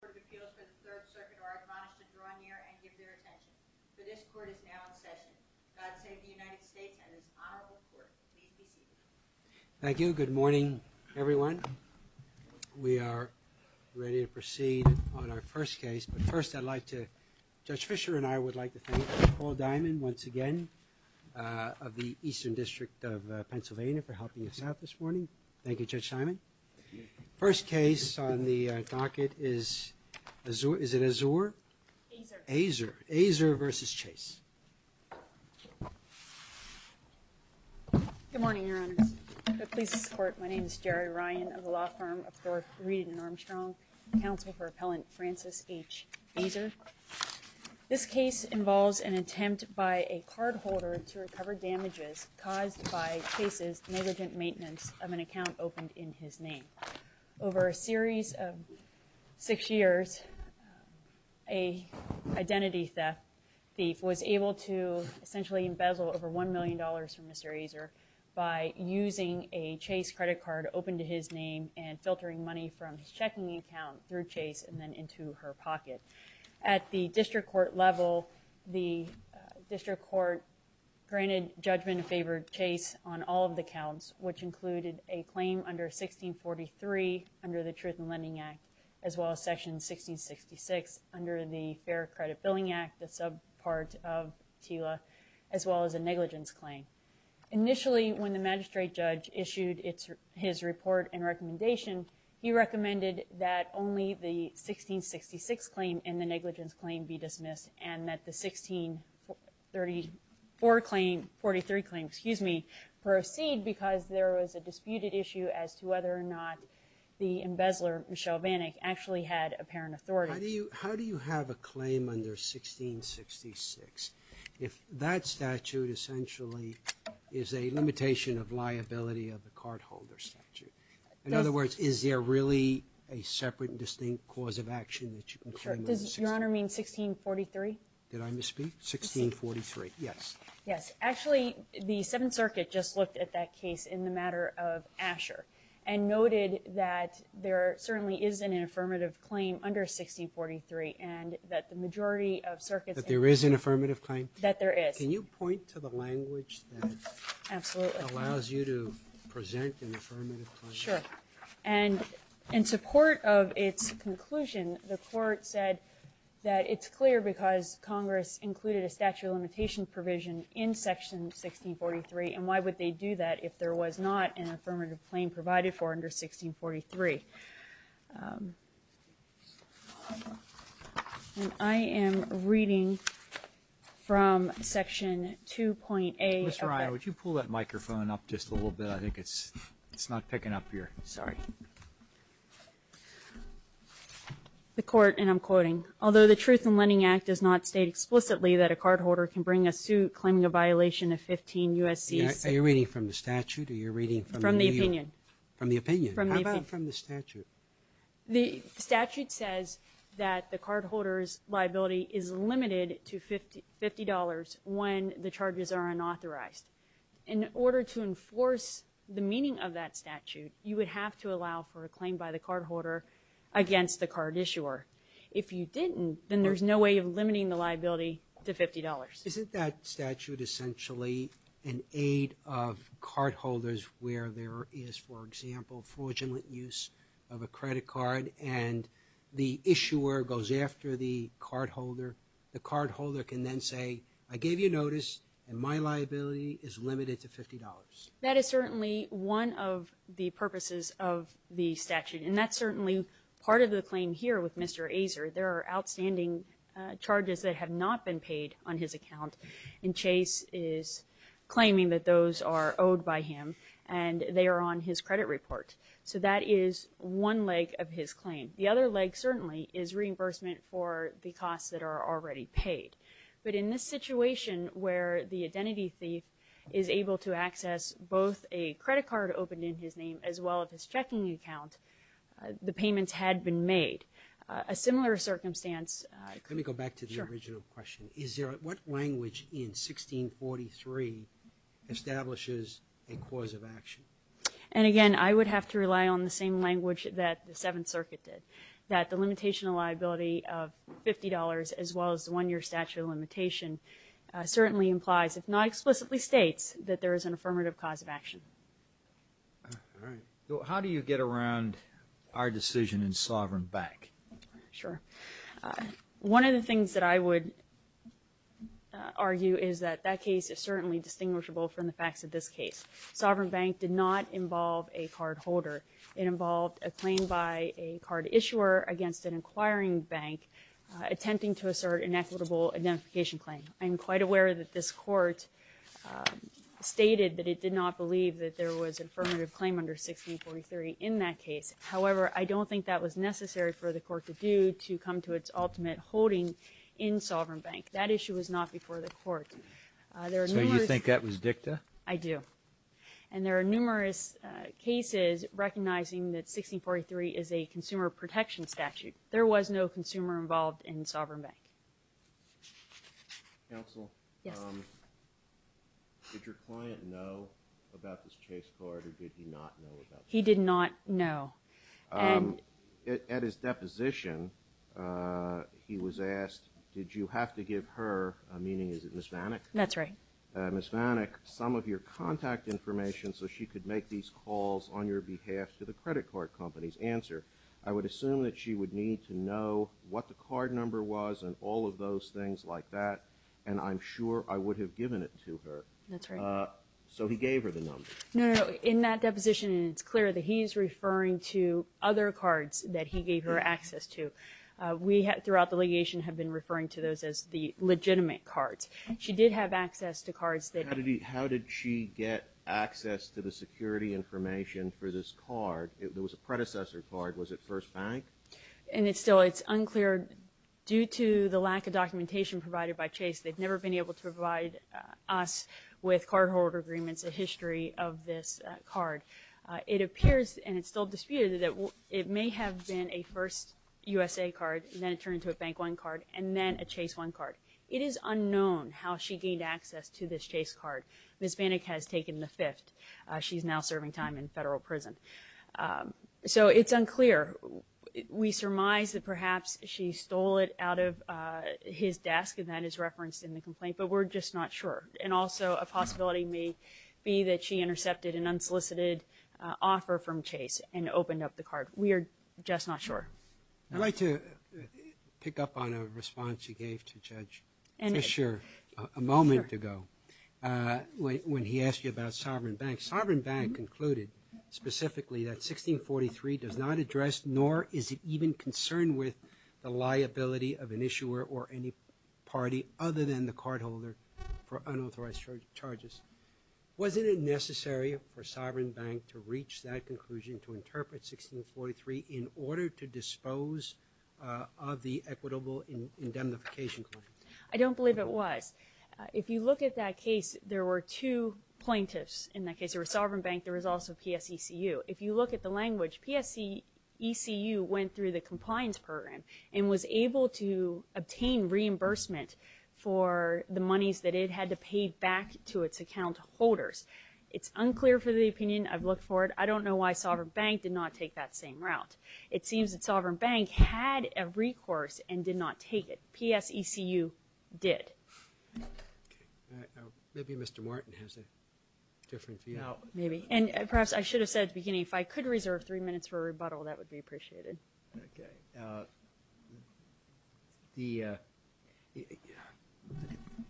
Court of Appeals for the Third Circuit are admonished to draw near and give their attention. The discord is now in session. God save the United States and this honorable court. Please be seated. Thank you. Good morning, everyone. We are ready to proceed on our first case. But first, I'd like to, Judge Fischer and I would like to thank Paul Diamond once again of the Eastern District of Pennsylvania for helping us out this morning. Thank you, Judge Diamond. First case on the docket is Azur. Is it Azur? Azur. Azur. Azur VChase. Good morning, Your Honors. I'm pleased to support. My name is Jerry Ryan of the law firm of Dorf Reed and Armstrong, counsel for appellant Francis H. Azur. This case involves an attempt by a cardholder to recover damages caused by Chase's negligent maintenance of an account opened in his name. Over a series of six years, a identity theft thief was able to essentially embezzle over $1 million from Mr. Azur by using a Chase credit card opened to his name and filtering money from his checking account through Chase and then into her pocket. At the district court level, the district court granted judgment in favor of Chase on all of the counts, which included a claim under 1643 under the Truth in Lending Act, as well as section 1666 under the Fair Credit Billing Act, the subpart of TILA, as well as a negligence claim. Initially, when the magistrate judge issued his report and recommendation, he recommended that only the 1666 claim and the negligence claim be dismissed and that the 1634 claim, 43 claim, excuse me, proceed because there was a disputed issue as to whether or not the embezzler, Michelle Vannick, actually had apparent authority. How do you have a claim under 1666? If that statute essentially is a limitation of liability of the cardholder statute, in other words, is there really a separate and distinct cause of action that you can claim under 1643? Does Your Honor mean 1643? Did I misspeak? 1643. Yes. Yes. Actually, the Seventh Circuit just looked at that case in the matter of Asher and noted that there certainly is an affirmative claim under 1643 and that the majority of circuits that there is an affirmative claim? That there is. Can you point to the language that allows you to present an affirmative claim? Sure. And in support of its conclusion, the court said that it's clear because Congress included a statute of limitation provision in section 1643 and why would they do that if there was not an affirmative claim provided for under 1643? And I am reading from section 2.A of that. Ms. Ryan, would you pull that microphone up just a little bit? I think it's not picking up here. Sorry. The court, and I'm quoting, although the Truth in Lending Act does not state explicitly that a cardholder can bring a suit claiming a violation of 15 U.S.C. Are you reading from the statute or are you reading from the opinion? From the opinion. How about from the statute? The statute says that the cardholder's liability is limited to $50 when the charges are unauthorized. In order to enforce the meaning of that statute, you would have to allow for a claim by the cardholder against the card issuer. If you didn't, then there's no way of limiting the liability to $50. Isn't that statute essentially an aid of cardholders where there is, for example, fraudulent use of a credit card and the issuer goes after the cardholder? The cardholder can then say, I gave you notice and my liability is limited to $50. That is certainly one of the purposes of the statute. And that's certainly part of the claim here with Mr. Azar. There are outstanding charges that have not been paid on his account and Chase is claiming that those are owed by him and they are on his credit report. So that is one leg of his claim. The other leg certainly is reimbursement for the costs that are already paid. But in this situation where the identity thief is able to access both a credit card opened in his name as well as his checking account, the payments had been made. A similar circumstance. Let me go back to the original question. What language in 1643 establishes a cause of action? And again, I would have to rely on the same language that the Seventh Circuit did, that the limitation of liability of $50 as well as the one-year statute of limitation certainly implies, if not explicitly states, that there is an affirmative cause of action. All right. How do you get around our decision in Sovereign Bank? Sure. One of the things that I would argue is that that case is certainly distinguishable from the facts of this case. Sovereign Bank did not involve a cardholder. It involved a claim by a card issuer against an inquiring bank attempting to assert an equitable identification claim. I'm quite aware that this court stated that it did not believe that there was an affirmative claim under 1643 in that case. However, I don't think that was necessary for the court to do to come to its ultimate holding in Sovereign Bank. That issue was not before the court. So you think that was dicta? I do. And there are numerous cases recognizing that 1643 is a consumer protection statute. There was no consumer involved in Sovereign Bank. Counsel? Yes. Did your client know about this chase card, or did he not know about the chase card? He did not know. At his deposition, he was asked, did you have to give her, meaning is it Ms. Vannick? That's right. Ms. Vannick, some of your contact information so she could make these calls on your behalf to the credit card company's answer. I would assume that she would need to know what the card number was and all of those things like that, and I'm sure I would have given it to her. That's right. So he gave her the number. No, no, no. In that deposition, it's clear that he is referring to other cards that he gave her access to. We, throughout the litigation, have been referring to those as the legitimate cards. She did have access to cards that... How did she get access to the security information for this card? It was a predecessor card. Was it First Bank? And it's still unclear. Due to the lack of documentation provided by Chase, they've never been able to provide us with cardholder agreements, a history of this card. It appears, and it's still disputed, that it may have been a First USA card, and then it turned into a Bank One card, and then a Chase One card. It is unknown how she gained access to this Chase card. Ms. Vannick has taken the fifth. She's now serving time in federal prison. So it's unclear. We surmise that perhaps she stole it out of his desk, and that is referenced in the complaint, but we're just not sure. And also, a possibility may be that she intercepted an unsolicited offer from Chase and opened up the card. We are just not sure. I'd like to pick up on a response you gave to Judge Fisher a moment ago when he asked you about Sovereign Bank. Sovereign Bank concluded specifically that 1643 does not address, nor is it even concerned with, the liability of an issuer or any party other than the cardholder for unauthorized charges. Wasn't it necessary for Sovereign Bank to reach that conclusion, to interpret 1643, in order to dispose of the equitable indemnification claim? I don't believe it was. If you look at that case, there were two plaintiffs in that case. There was Sovereign Bank. There was also PSECU. If you look at the language, PSECU went through the compliance program and was able to obtain reimbursement for the monies that it had to pay back to its account holders. It's unclear for the opinion. I've looked for it. I don't know why Sovereign Bank did not take that same route. It seems that Sovereign Bank had a recourse and did not take it. PSECU did. Maybe Mr. Martin has a different view. Perhaps I should have said at the beginning, if I could reserve three minutes for a rebuttal, that would be appreciated.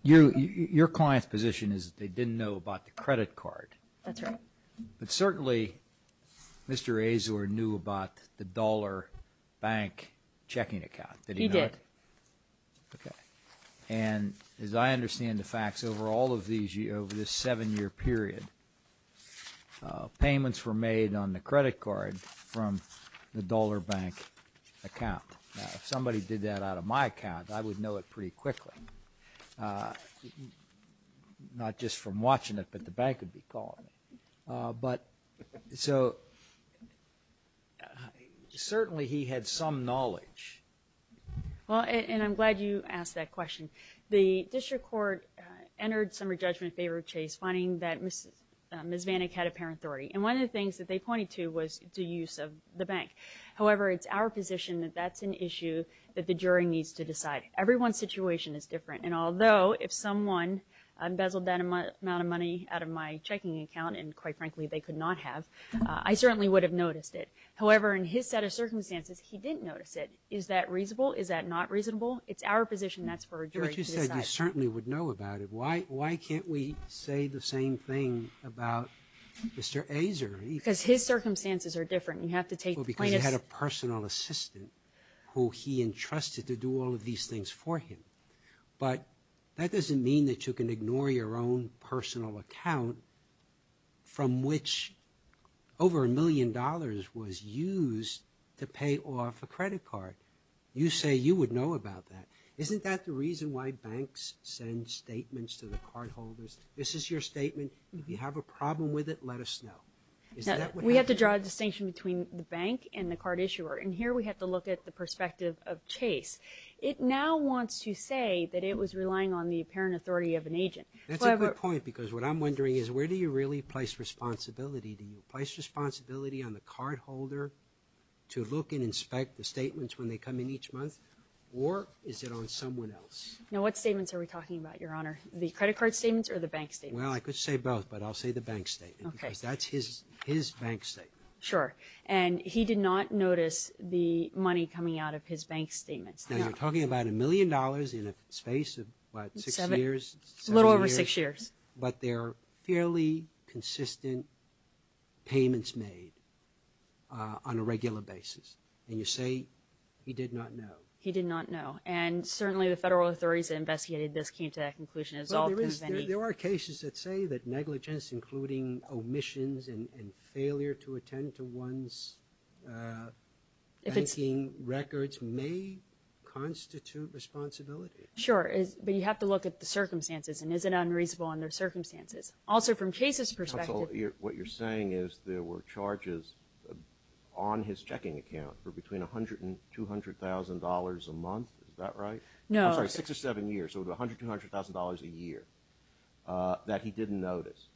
Your client's position is that they didn't know about the credit card. That's right. But certainly, Mr. Azor knew about the dollar bank checking account. Did he know it? He did. Okay. And as I understand the facts, over all of these, over this seven-year period, payments were made on the credit card from the dollar bank account. Now, if somebody did that out of my account, I would know it pretty quickly. Not just from watching it, but the bank would be calling me. So certainly, he had some knowledge. Well, and I'm glad you asked that question. The district court entered some re-judgment in favor of Chase, finding that Ms. Vanek had apparent authority. And one of the things that they pointed to was the use of the bank. However, it's our position that that's an issue that the jury needs to decide. Everyone's situation is different. And although if someone unbezeled that amount of money out of my checking account and, quite frankly, they could not have, I certainly would have noticed it. However, in his set of circumstances, he didn't notice it. Is that reasonable? Is that not reasonable? It's our position that's for a jury to decide. Yeah, but you said you certainly would know about it. Why can't we say the same thing about Mr. Azor? Because his circumstances are different. You have to take the plaintiff's— Well, because he had a personal assistant who he entrusted to do all of these things for him. But that doesn't mean that you can ignore your own personal account from which over a million dollars was used to pay off a credit card. You say you would know about that. Isn't that the reason why banks send statements to the cardholders? This is your statement. If you have a problem with it, let us know. We have to draw a distinction between the bank and the card issuer. And here we have to look at the perspective of Chase. It now wants to say that it was relying on the apparent authority of an agent. That's a good point because what I'm wondering is where do you really place responsibility? Do you place responsibility on the cardholder to look and inspect the statements when they come in each month, or is it on someone else? Now, what statements are we talking about, Your Honor? The credit card statements or the bank statements? Well, I could say both, but I'll say the bank statement because that's his bank statement. Sure. And he did not notice the money coming out of his bank statements. Now, you're talking about a million dollars in a space of, what, six years, seven years? A little over six years. But there are fairly consistent payments made on a regular basis. And you say he did not know. He did not know. And certainly the federal authorities that investigated this came to that conclusion. There are cases that say that negligence, including omissions and failure to attend to one's banking records, may constitute responsibility. Sure. But you have to look at the circumstances, and is it unreasonable under circumstances? Also, from Chase's perspective. What you're saying is there were charges on his checking account for between $100,000 and $200,000 a month. Is that right? No. I'm sorry, six or seven years, so $100,000 to $200,000 a year that he didn't notice,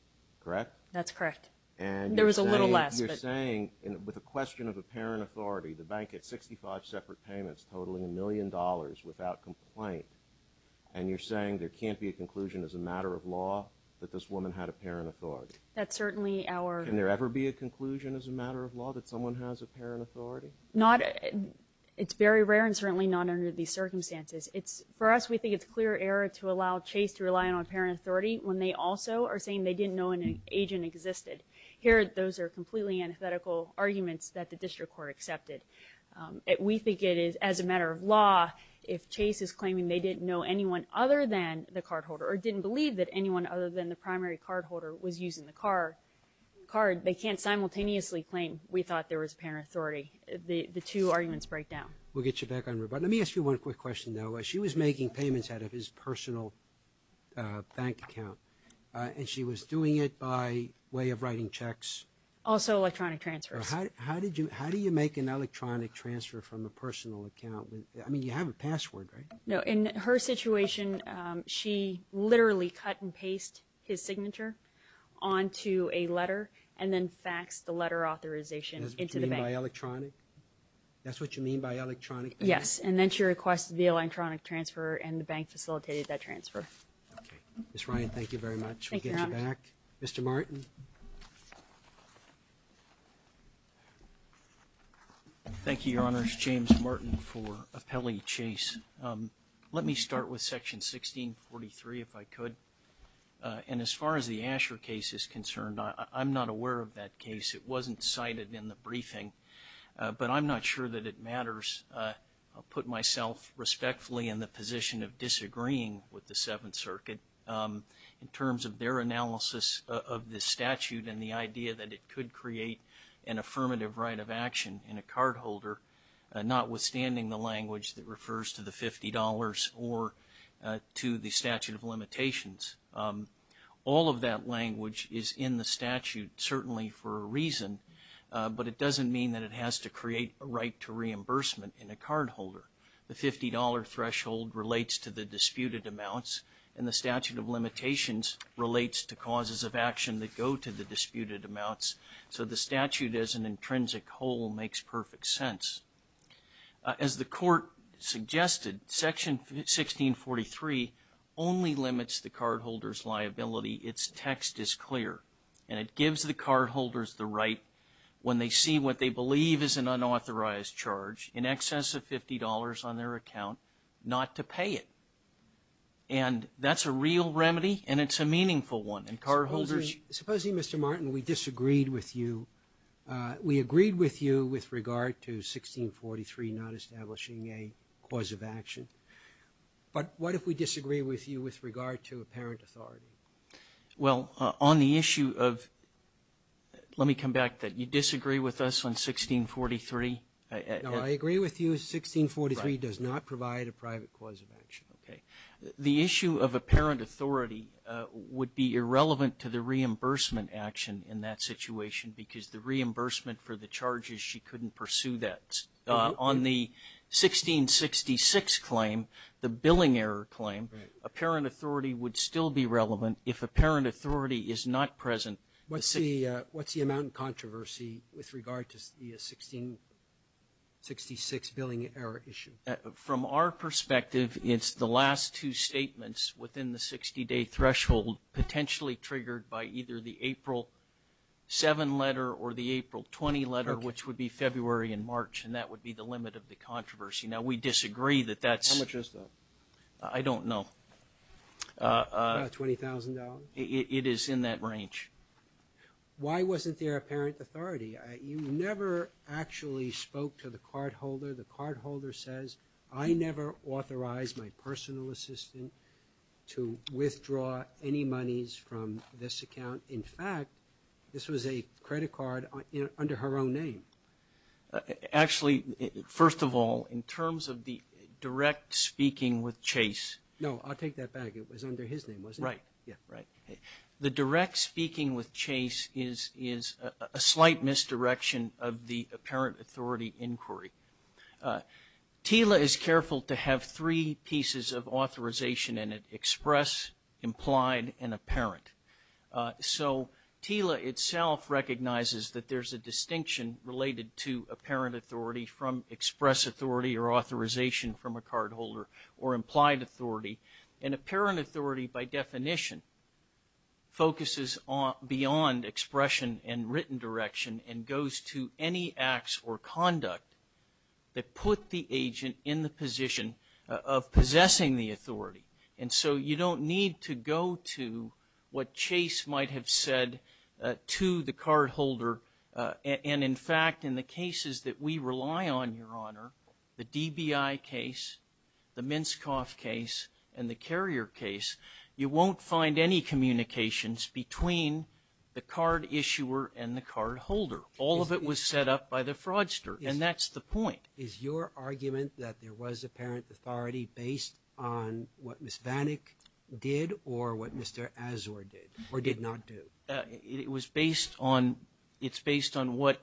correct? That's correct. There was a little less. And you're saying with a question of apparent authority, the bank had 65 separate payments, totaling a million dollars without complaint, and you're saying there can't be a conclusion as a matter of law that this woman had apparent authority? That's certainly our— Can there ever be a conclusion as a matter of law that someone has apparent authority? It's very rare, and certainly not under these circumstances. For us, we think it's clear error to allow Chase to rely on apparent authority when they also are saying they didn't know an agent existed. Here, those are completely antithetical arguments that the district court accepted. We think it is, as a matter of law, if Chase is claiming they didn't know anyone other than the cardholder or didn't believe that anyone other than the primary cardholder was using the card, they can't simultaneously claim we thought there was apparent authority. The two arguments break down. We'll get you back on route. But let me ask you one quick question, though. She was making payments out of his personal bank account, and she was doing it by way of writing checks? Also electronic transfers. How do you make an electronic transfer from a personal account? I mean, you have a password, right? No, in her situation, she literally cut and pasted his signature onto a letter and then faxed the letter of authorization into the bank. That's what you mean by electronic? Yes, and then she requested the electronic transfer, and the bank facilitated that transfer. Okay. Ms. Ryan, thank you very much. We'll get you back. Mr. Martin. Mr. Martin. Thank you, Your Honors. James Martin for Appellee Chase. Let me start with Section 1643, if I could. And as far as the Asher case is concerned, I'm not aware of that case. It wasn't cited in the briefing, but I'm not sure that it matters. I'll put myself respectfully in the position of disagreeing with the Seventh Circuit in terms of their analysis of this statute and the idea that it could create an affirmative right of action in a cardholder, notwithstanding the language that refers to the $50 or to the statute of limitations. All of that language is in the statute, certainly for a reason, but it doesn't mean that it has to create a right to reimbursement in a cardholder. The $50 threshold relates to the disputed amounts, and the statute of limitations relates to causes of action that go to the disputed amounts. So the statute as an intrinsic whole makes perfect sense. As the Court suggested, Section 1643 only limits the cardholder's liability. Its text is clear, and it gives the cardholders the right, when they see what they believe is an unauthorized charge in excess of $50 on their account, not to pay it. And that's a real remedy, and it's a meaningful one. And cardholders – Supposing, Mr. Martin, we disagreed with you. We agreed with you with regard to 1643 not establishing a cause of action. But what if we disagree with you with regard to apparent authority? Well, on the issue of – let me come back to that. You disagree with us on 1643. No, I agree with you. 1643 does not provide a private cause of action. Okay. The issue of apparent authority would be irrelevant to the reimbursement action in that situation because the reimbursement for the charges, she couldn't pursue that. On the 1666 claim, the billing error claim, apparent authority would still be relevant if apparent authority is not present. What's the amount in controversy with regard to the 1666 billing error issue? From our perspective, it's the last two statements within the 60-day threshold potentially triggered by either the April 7 letter or the April 20 letter, which would be February and March, and that would be the limit of the controversy. Now, we disagree that that's – How much is that? I don't know. About $20,000? It is in that range. Why wasn't there apparent authority? You never actually spoke to the cardholder. The cardholder says, I never authorized my personal assistant to withdraw any monies from this account. In fact, this was a credit card under her own name. Actually, first of all, in terms of the direct speaking with Chase. No, I'll take that back. It was under his name, wasn't it? Right, yeah, right. The direct speaking with Chase is a slight misdirection of the apparent authority inquiry. TILA is careful to have three pieces of authorization in it, express, implied, and apparent. So TILA itself recognizes that there's a distinction related to apparent authority from express authority or authorization from a cardholder or implied authority. And apparent authority, by definition, focuses beyond expression and written direction and goes to any acts or conduct that put the agent in the position of possessing the authority. And so you don't need to go to what Chase might have said to the cardholder. And, in fact, in the cases that we rely on, Your Honor, the DBI case, the Minskoff case, and the Carrier case, you won't find any communications between the card issuer and the cardholder. All of it was set up by the fraudster, and that's the point. Is your argument that there was apparent authority based on what Ms. Vanik did or what Mr. Azor did or did not do? It was based on what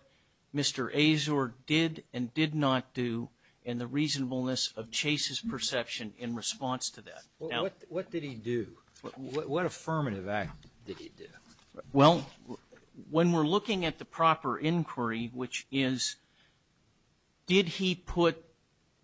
Mr. Azor did and did not do and the reasonableness of Chase's perception in response to that. What did he do? What affirmative act did he do? Well, when we're looking at the proper inquiry, which is, did he put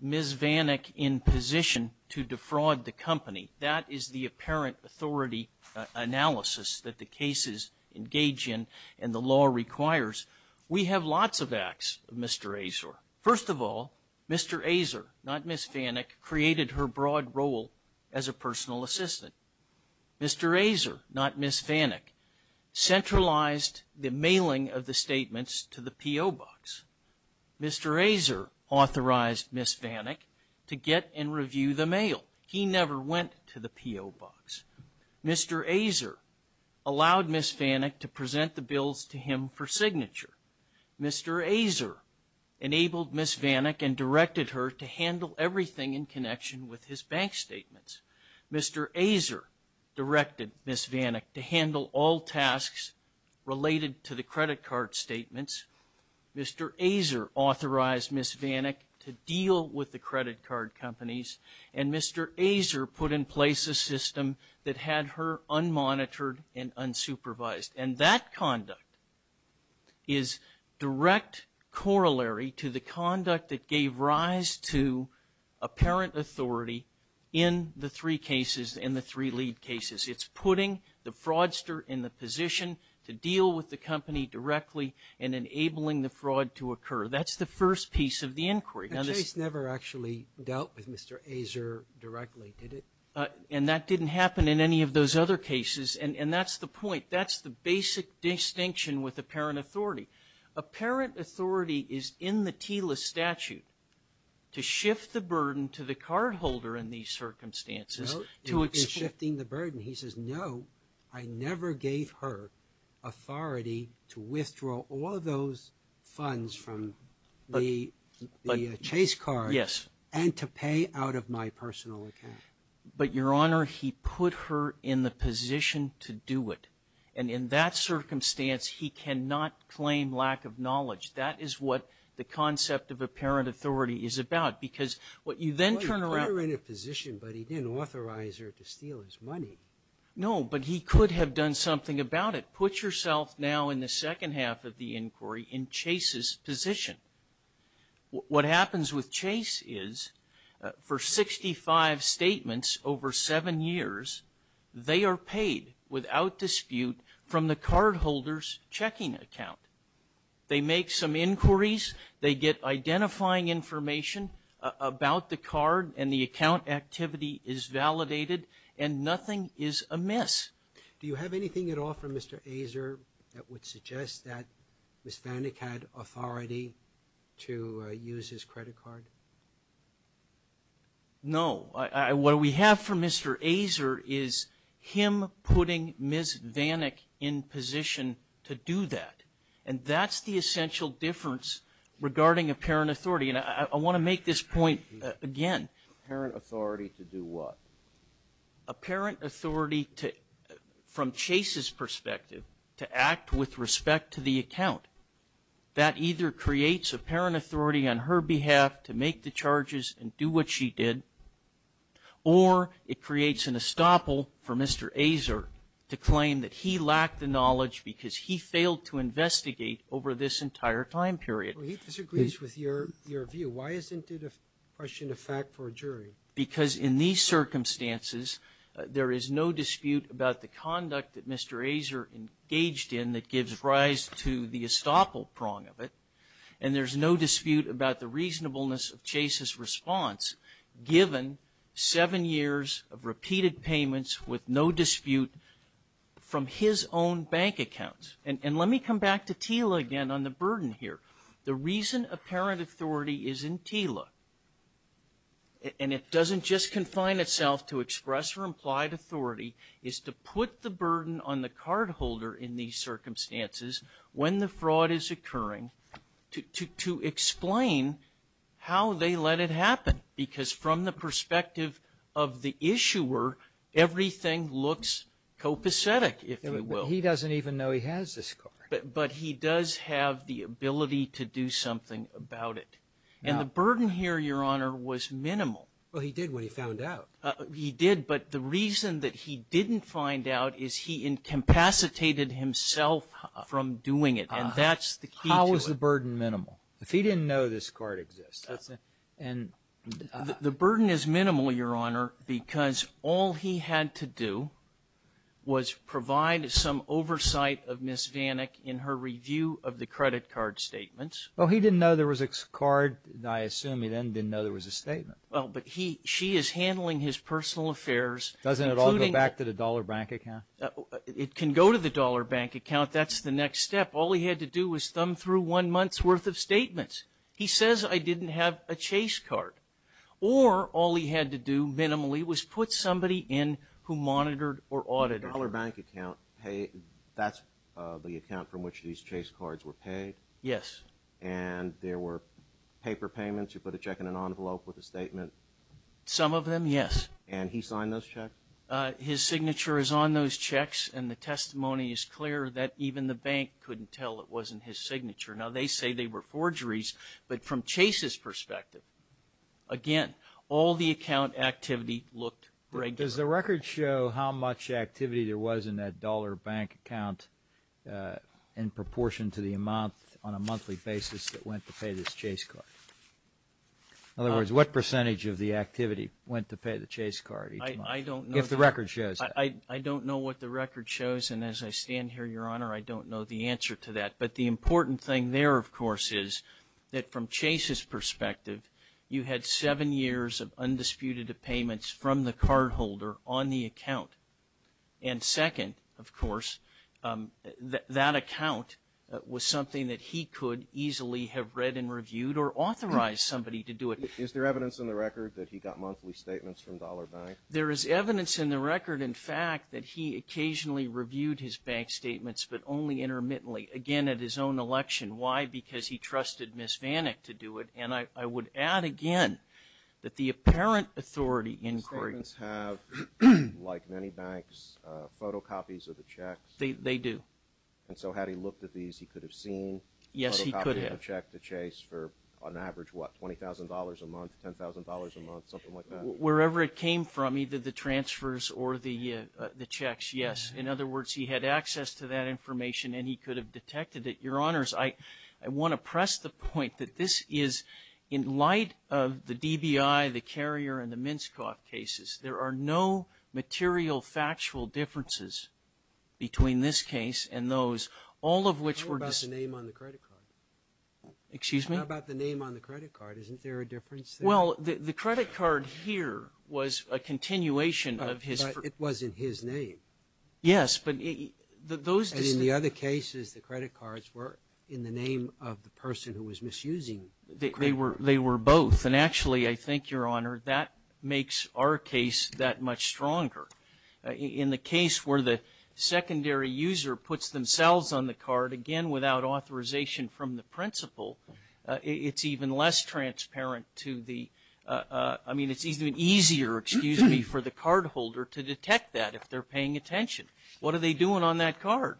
Ms. Vanik in position to defraud the company, that is the apparent authority analysis that the cases engage in and the law requires, we have lots of acts of Mr. Azor. First of all, Mr. Azor, not Ms. Vanik, created her broad role as a personal assistant. Mr. Azor, not Ms. Vanik, centralized the mailing of the statements to the P.O. box. Mr. Azor authorized Ms. Vanik to get and review the mail. He never went to the P.O. box. Mr. Azor allowed Ms. Vanik to present the bills to him for signature. Mr. Azor enabled Ms. Vanik and directed her to handle everything in connection with his bank statements. Mr. Azor directed Ms. Vanik to handle all tasks related to the credit card statements. Mr. Azor authorized Ms. Vanik to deal with the credit card companies. And Mr. Azor put in place a system that had her unmonitored and unsupervised. And that conduct is direct corollary to the conduct that gave rise to apparent authority in the three cases, in the three lead cases. It's putting the fraudster in the position to deal with the company directly and enabling the fraud to occur. That's the first piece of the inquiry. Now, this ---- Roberts. Never actually dealt with Mr. Azor directly, did it? Carvin. And that didn't happen in any of those other cases. And that's the point. That's the basic distinction with apparent authority. Apparent authority is in the TILA statute to shift the burden to the cardholder in these circumstances to explain ---- And he says, no, I never gave her authority to withdraw all of those funds from the chase card. Yes. And to pay out of my personal account. But, Your Honor, he put her in the position to do it. And in that circumstance, he cannot claim lack of knowledge. That is what the concept of apparent authority is about. Because what you then turn around ---- No. But he could have done something about it. Put yourself now in the second half of the inquiry in Chase's position. What happens with Chase is, for 65 statements over seven years, they are paid without dispute from the cardholder's checking account. They make some inquiries. They get identifying information about the card. And the account activity is validated. And nothing is amiss. Do you have anything at all from Mr. Azar that would suggest that Ms. Vanik had authority to use his credit card? No. What we have from Mr. Azar is him putting Ms. Vanik in position to do that. And that's the essential difference regarding apparent authority. And I want to make this point again. Apparent authority to do what? Apparent authority to, from Chase's perspective, to act with respect to the account. That either creates apparent authority on her behalf to make the charges and do what she did, or it creates an estoppel for Mr. Azar to claim that he lacked the knowledge because he failed to investigate over this entire time period. He disagrees with your view. Why isn't it a question of fact for a jury? Because in these circumstances, there is no dispute about the conduct that Mr. Azar engaged in that gives rise to the estoppel prong of it. And there's no dispute about the reasonableness of Chase's response, given seven years of repeated payments with no dispute from his own bank accounts. And let me come back to TILA again on the burden here. The reason apparent authority is in TILA, and it doesn't just confine itself to express or implied authority, is to put the burden on the cardholder in these circumstances when the fraud is occurring to explain how they let it happen. Because from the perspective of the issuer, everything looks copacetic, if you will. He doesn't even know he has this card. But he does have the ability to do something about it. And the burden here, Your Honor, was minimal. Well, he did when he found out. He did, but the reason that he didn't find out is he incapacitated himself from doing it. And that's the key to it. How is the burden minimal? If he didn't know this card exists. The burden is minimal, Your Honor, because all he had to do was provide some oversight of Ms. Vanek in her review of the credit card statements. Well, he didn't know there was a card. I assume he then didn't know there was a statement. Well, but she is handling his personal affairs. Doesn't it all go back to the dollar bank account? It can go to the dollar bank account. That's the next step. All he had to do was thumb through one month's worth of statements. He says, I didn't have a chase card. Or all he had to do, minimally, was put somebody in who monitored or audited. The dollar bank account, that's the account from which these chase cards were paid? Yes. And there were paper payments? You put a check in an envelope with a statement? Some of them, yes. And he signed those checks? His signature is on those checks, and the testimony is clear that even the bank couldn't tell it wasn't his signature. Now, they say they were forgeries, but from Chase's perspective, again, all the account activity looked regular. Does the record show how much activity there was in that dollar bank account in proportion to the amount on a monthly basis that went to pay this chase card? In other words, what percentage of the activity went to pay the chase card each month? I don't know. If the record shows. I don't know what the record shows, and as I stand here, Your Honor, I don't know the answer to that. But the important thing there, of course, is that from Chase's perspective, you had seven years of undisputed payments from the cardholder on the account. And second, of course, that account was something that he could easily have read and reviewed or authorized somebody to do it. Is there evidence in the record that he got monthly statements from dollar banks? There is evidence in the record, in fact, that he occasionally reviewed his bank statements, but only intermittently, again, at his own election. Why? Because he trusted Ms. Vanek to do it. And I would add again that the apparent authority inquiry. Do statements have, like many banks, photocopies of the checks? They do. And so had he looked at these, he could have seen a photocopy of a check to Chase for, on average, what, $20,000 a month, $10,000 a month, something like that? Wherever it came from, either the transfers or the checks, yes. In other words, he had access to that information and he could have detected it. Your Honors, I want to press the point that this is, in light of the DBI, the Carrier, and the Minskoff cases, there are no material, factual differences between this case and those, all of which were just ---- Tell me about the name on the credit card. Excuse me? How about the name on the credit card? Isn't there a difference there? Well, the credit card here was a continuation of his ---- But it wasn't his name. Yes, but those ---- And in the other cases, the credit cards were in the name of the person who was misusing the credit card. They were both. And actually, I think, Your Honor, that makes our case that much stronger. In the case where the secondary user puts themselves on the card, again, without authorization from the principal, it's even less transparent to the ---- I mean, it's even easier, excuse me, for the cardholder to detect that if they're paying attention. What are they doing on that card?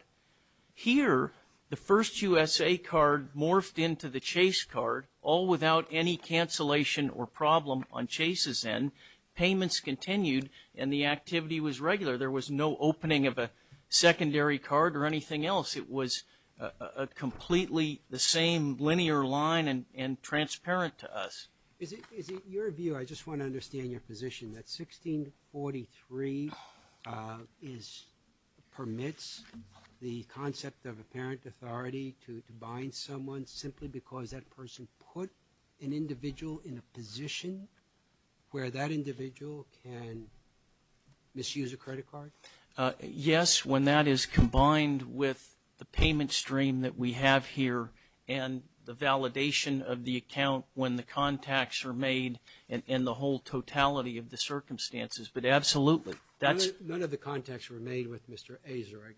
Here, the first USA card morphed into the Chase card, all without any cancellation or problem on Chase's end. Payments continued, and the activity was regular. There was no opening of a secondary card or anything else. It was completely the same linear line and transparent to us. Is it your view, I just want to understand your position, that 1643 is ---- permits the concept of apparent authority to bind someone simply because that person put an individual in a position where that individual can misuse a credit card? Yes, when that is combined with the payment stream that we have here and the validation of the account when the contacts are made and the whole totality of the circumstances. But absolutely, that's ---- None of the contacts were made with Mr. Azar, I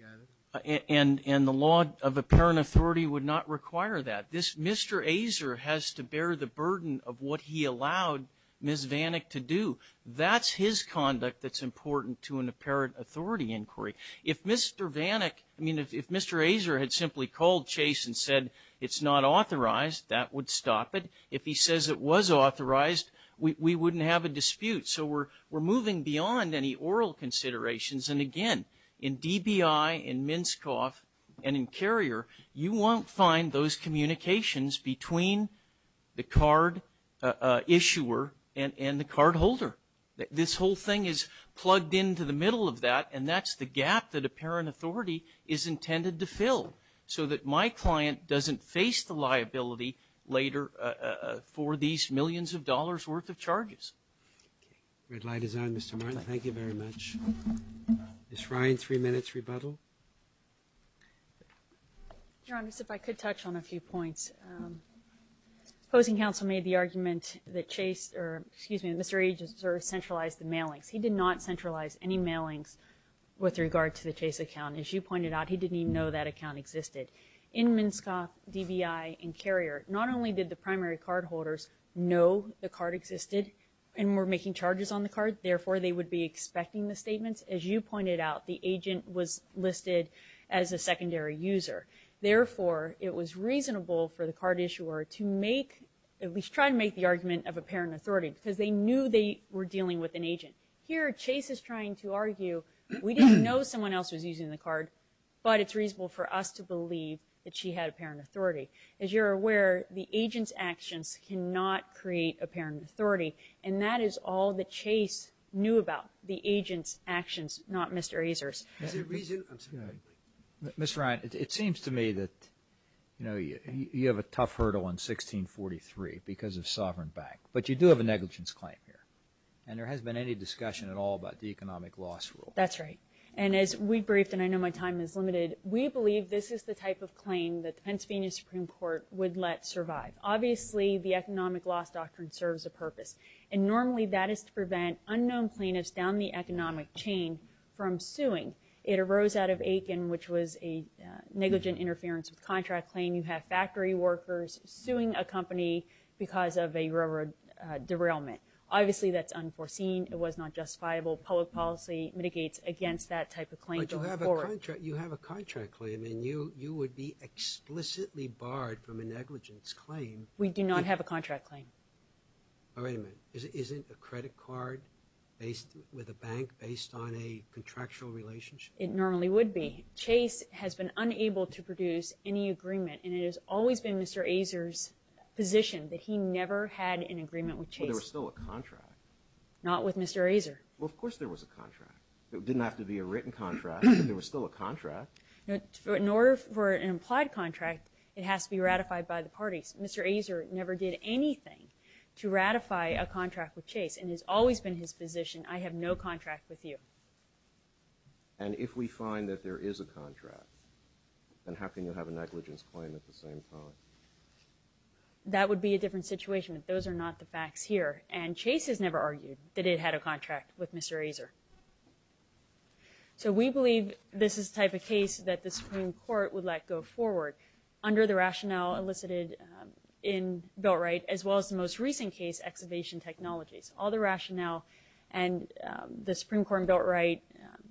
gather. And the law of apparent authority would not require that. This Mr. Azar has to bear the burden of what he allowed Ms. Vanek to do. That's his conduct that's important to an apparent authority inquiry. If Mr. Vanek, I mean, if Mr. Azar had simply called Chase and said, it's not authorized, that would stop it. If he says it was authorized, we wouldn't have a dispute. So we're moving beyond any oral considerations. And again, in DBI, in Minskoff, and in Carrier, you won't find those communications between the card issuer and the cardholder. This whole thing is plugged into the middle of that and that's the gap that apparent authority is intended to fill so that my client doesn't face the liability later for these millions of dollars worth of charges. Red light is on, Mr. Martin. Thank you very much. Ms. Ryan, three minutes rebuttal. Your Honor, if I could touch on a few points. Opposing counsel made the argument that Chase, or excuse me, that Mr. Azar centralized the mailings. He did not centralize any mailings with regard to the Chase account. As you pointed out, he didn't even know that account existed. In Minskoff, DBI, and Carrier, not only did the primary cardholders know the card existed and were making charges on the card, therefore, they would be expecting the statements. As you pointed out, the agent was listed as a secondary user. Therefore, it was reasonable for the card issuer to make, at least try to make the argument of apparent authority because they knew they were dealing with an agent. Here, Chase is trying to argue we didn't know someone else was using the card, but it's reasonable for us to believe that she had apparent authority. As you're aware, the agent's actions cannot create apparent authority, and that is all that Chase knew about, the agent's actions, not Mr. Azar's. Is there a reason? Ms. Ryan, it seems to me that, you know, you have a tough hurdle in 1643 because of Sovereign Bank, but you do have a negligence claim here, and there hasn't been any discussion at all about the economic loss rule. That's right. And as we briefed, and I know my time is limited, we believe this is the type of claim that the Pennsylvania Supreme Court would let survive. Obviously, the economic loss doctrine serves a purpose, and normally that is to prevent unknown plaintiffs down the economic chain from suing. It arose out of Aiken, which was a negligent interference with contract claim. You have factory workers suing a company because of a railroad derailment. Obviously, that's unforeseen. It was not justifiable. Public policy mitigates against that type of claim going forward. You have a contract claim, and you would be explicitly barred from a negligence claim. We do not have a contract claim. Wait a minute. Isn't a credit card with a bank based on a contractual relationship? It normally would be. Chase has been unable to produce any agreement, and it has always been Mr. Azar's position that he never had an agreement with Chase. But there was still a contract. Not with Mr. Azar. Well, of course there was a contract. It didn't have to be a written contract, but there was still a contract. In order for an implied contract, it has to be ratified by the parties. Mr. Azar never did anything to ratify a contract with Chase and has always been his position, I have no contract with you. And if we find that there is a contract, then how can you have a negligence claim at the same time? That would be a different situation, but those are not the facts here. And Chase has never argued that it had a contract with Mr. Azar. So we believe this is the type of case that the Supreme Court would let go forward under the rationale elicited in Beltright, as well as the most recent case, Excavation Technologies. All the rationale and the Supreme Court in Beltright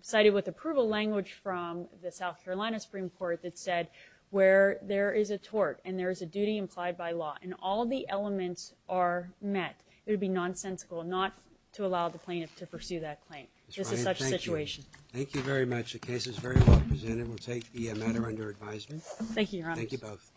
cited with approval language from the South Carolina Supreme Court that said where there is a tort and there is a duty implied by law, and all the elements are met, it would be nonsensical not to allow the plaintiff to pursue that claim. This is such a situation. Thank you very much. The case is very well presented. We'll take the matter under advisement. Thank you, Your Honor. Thank you both.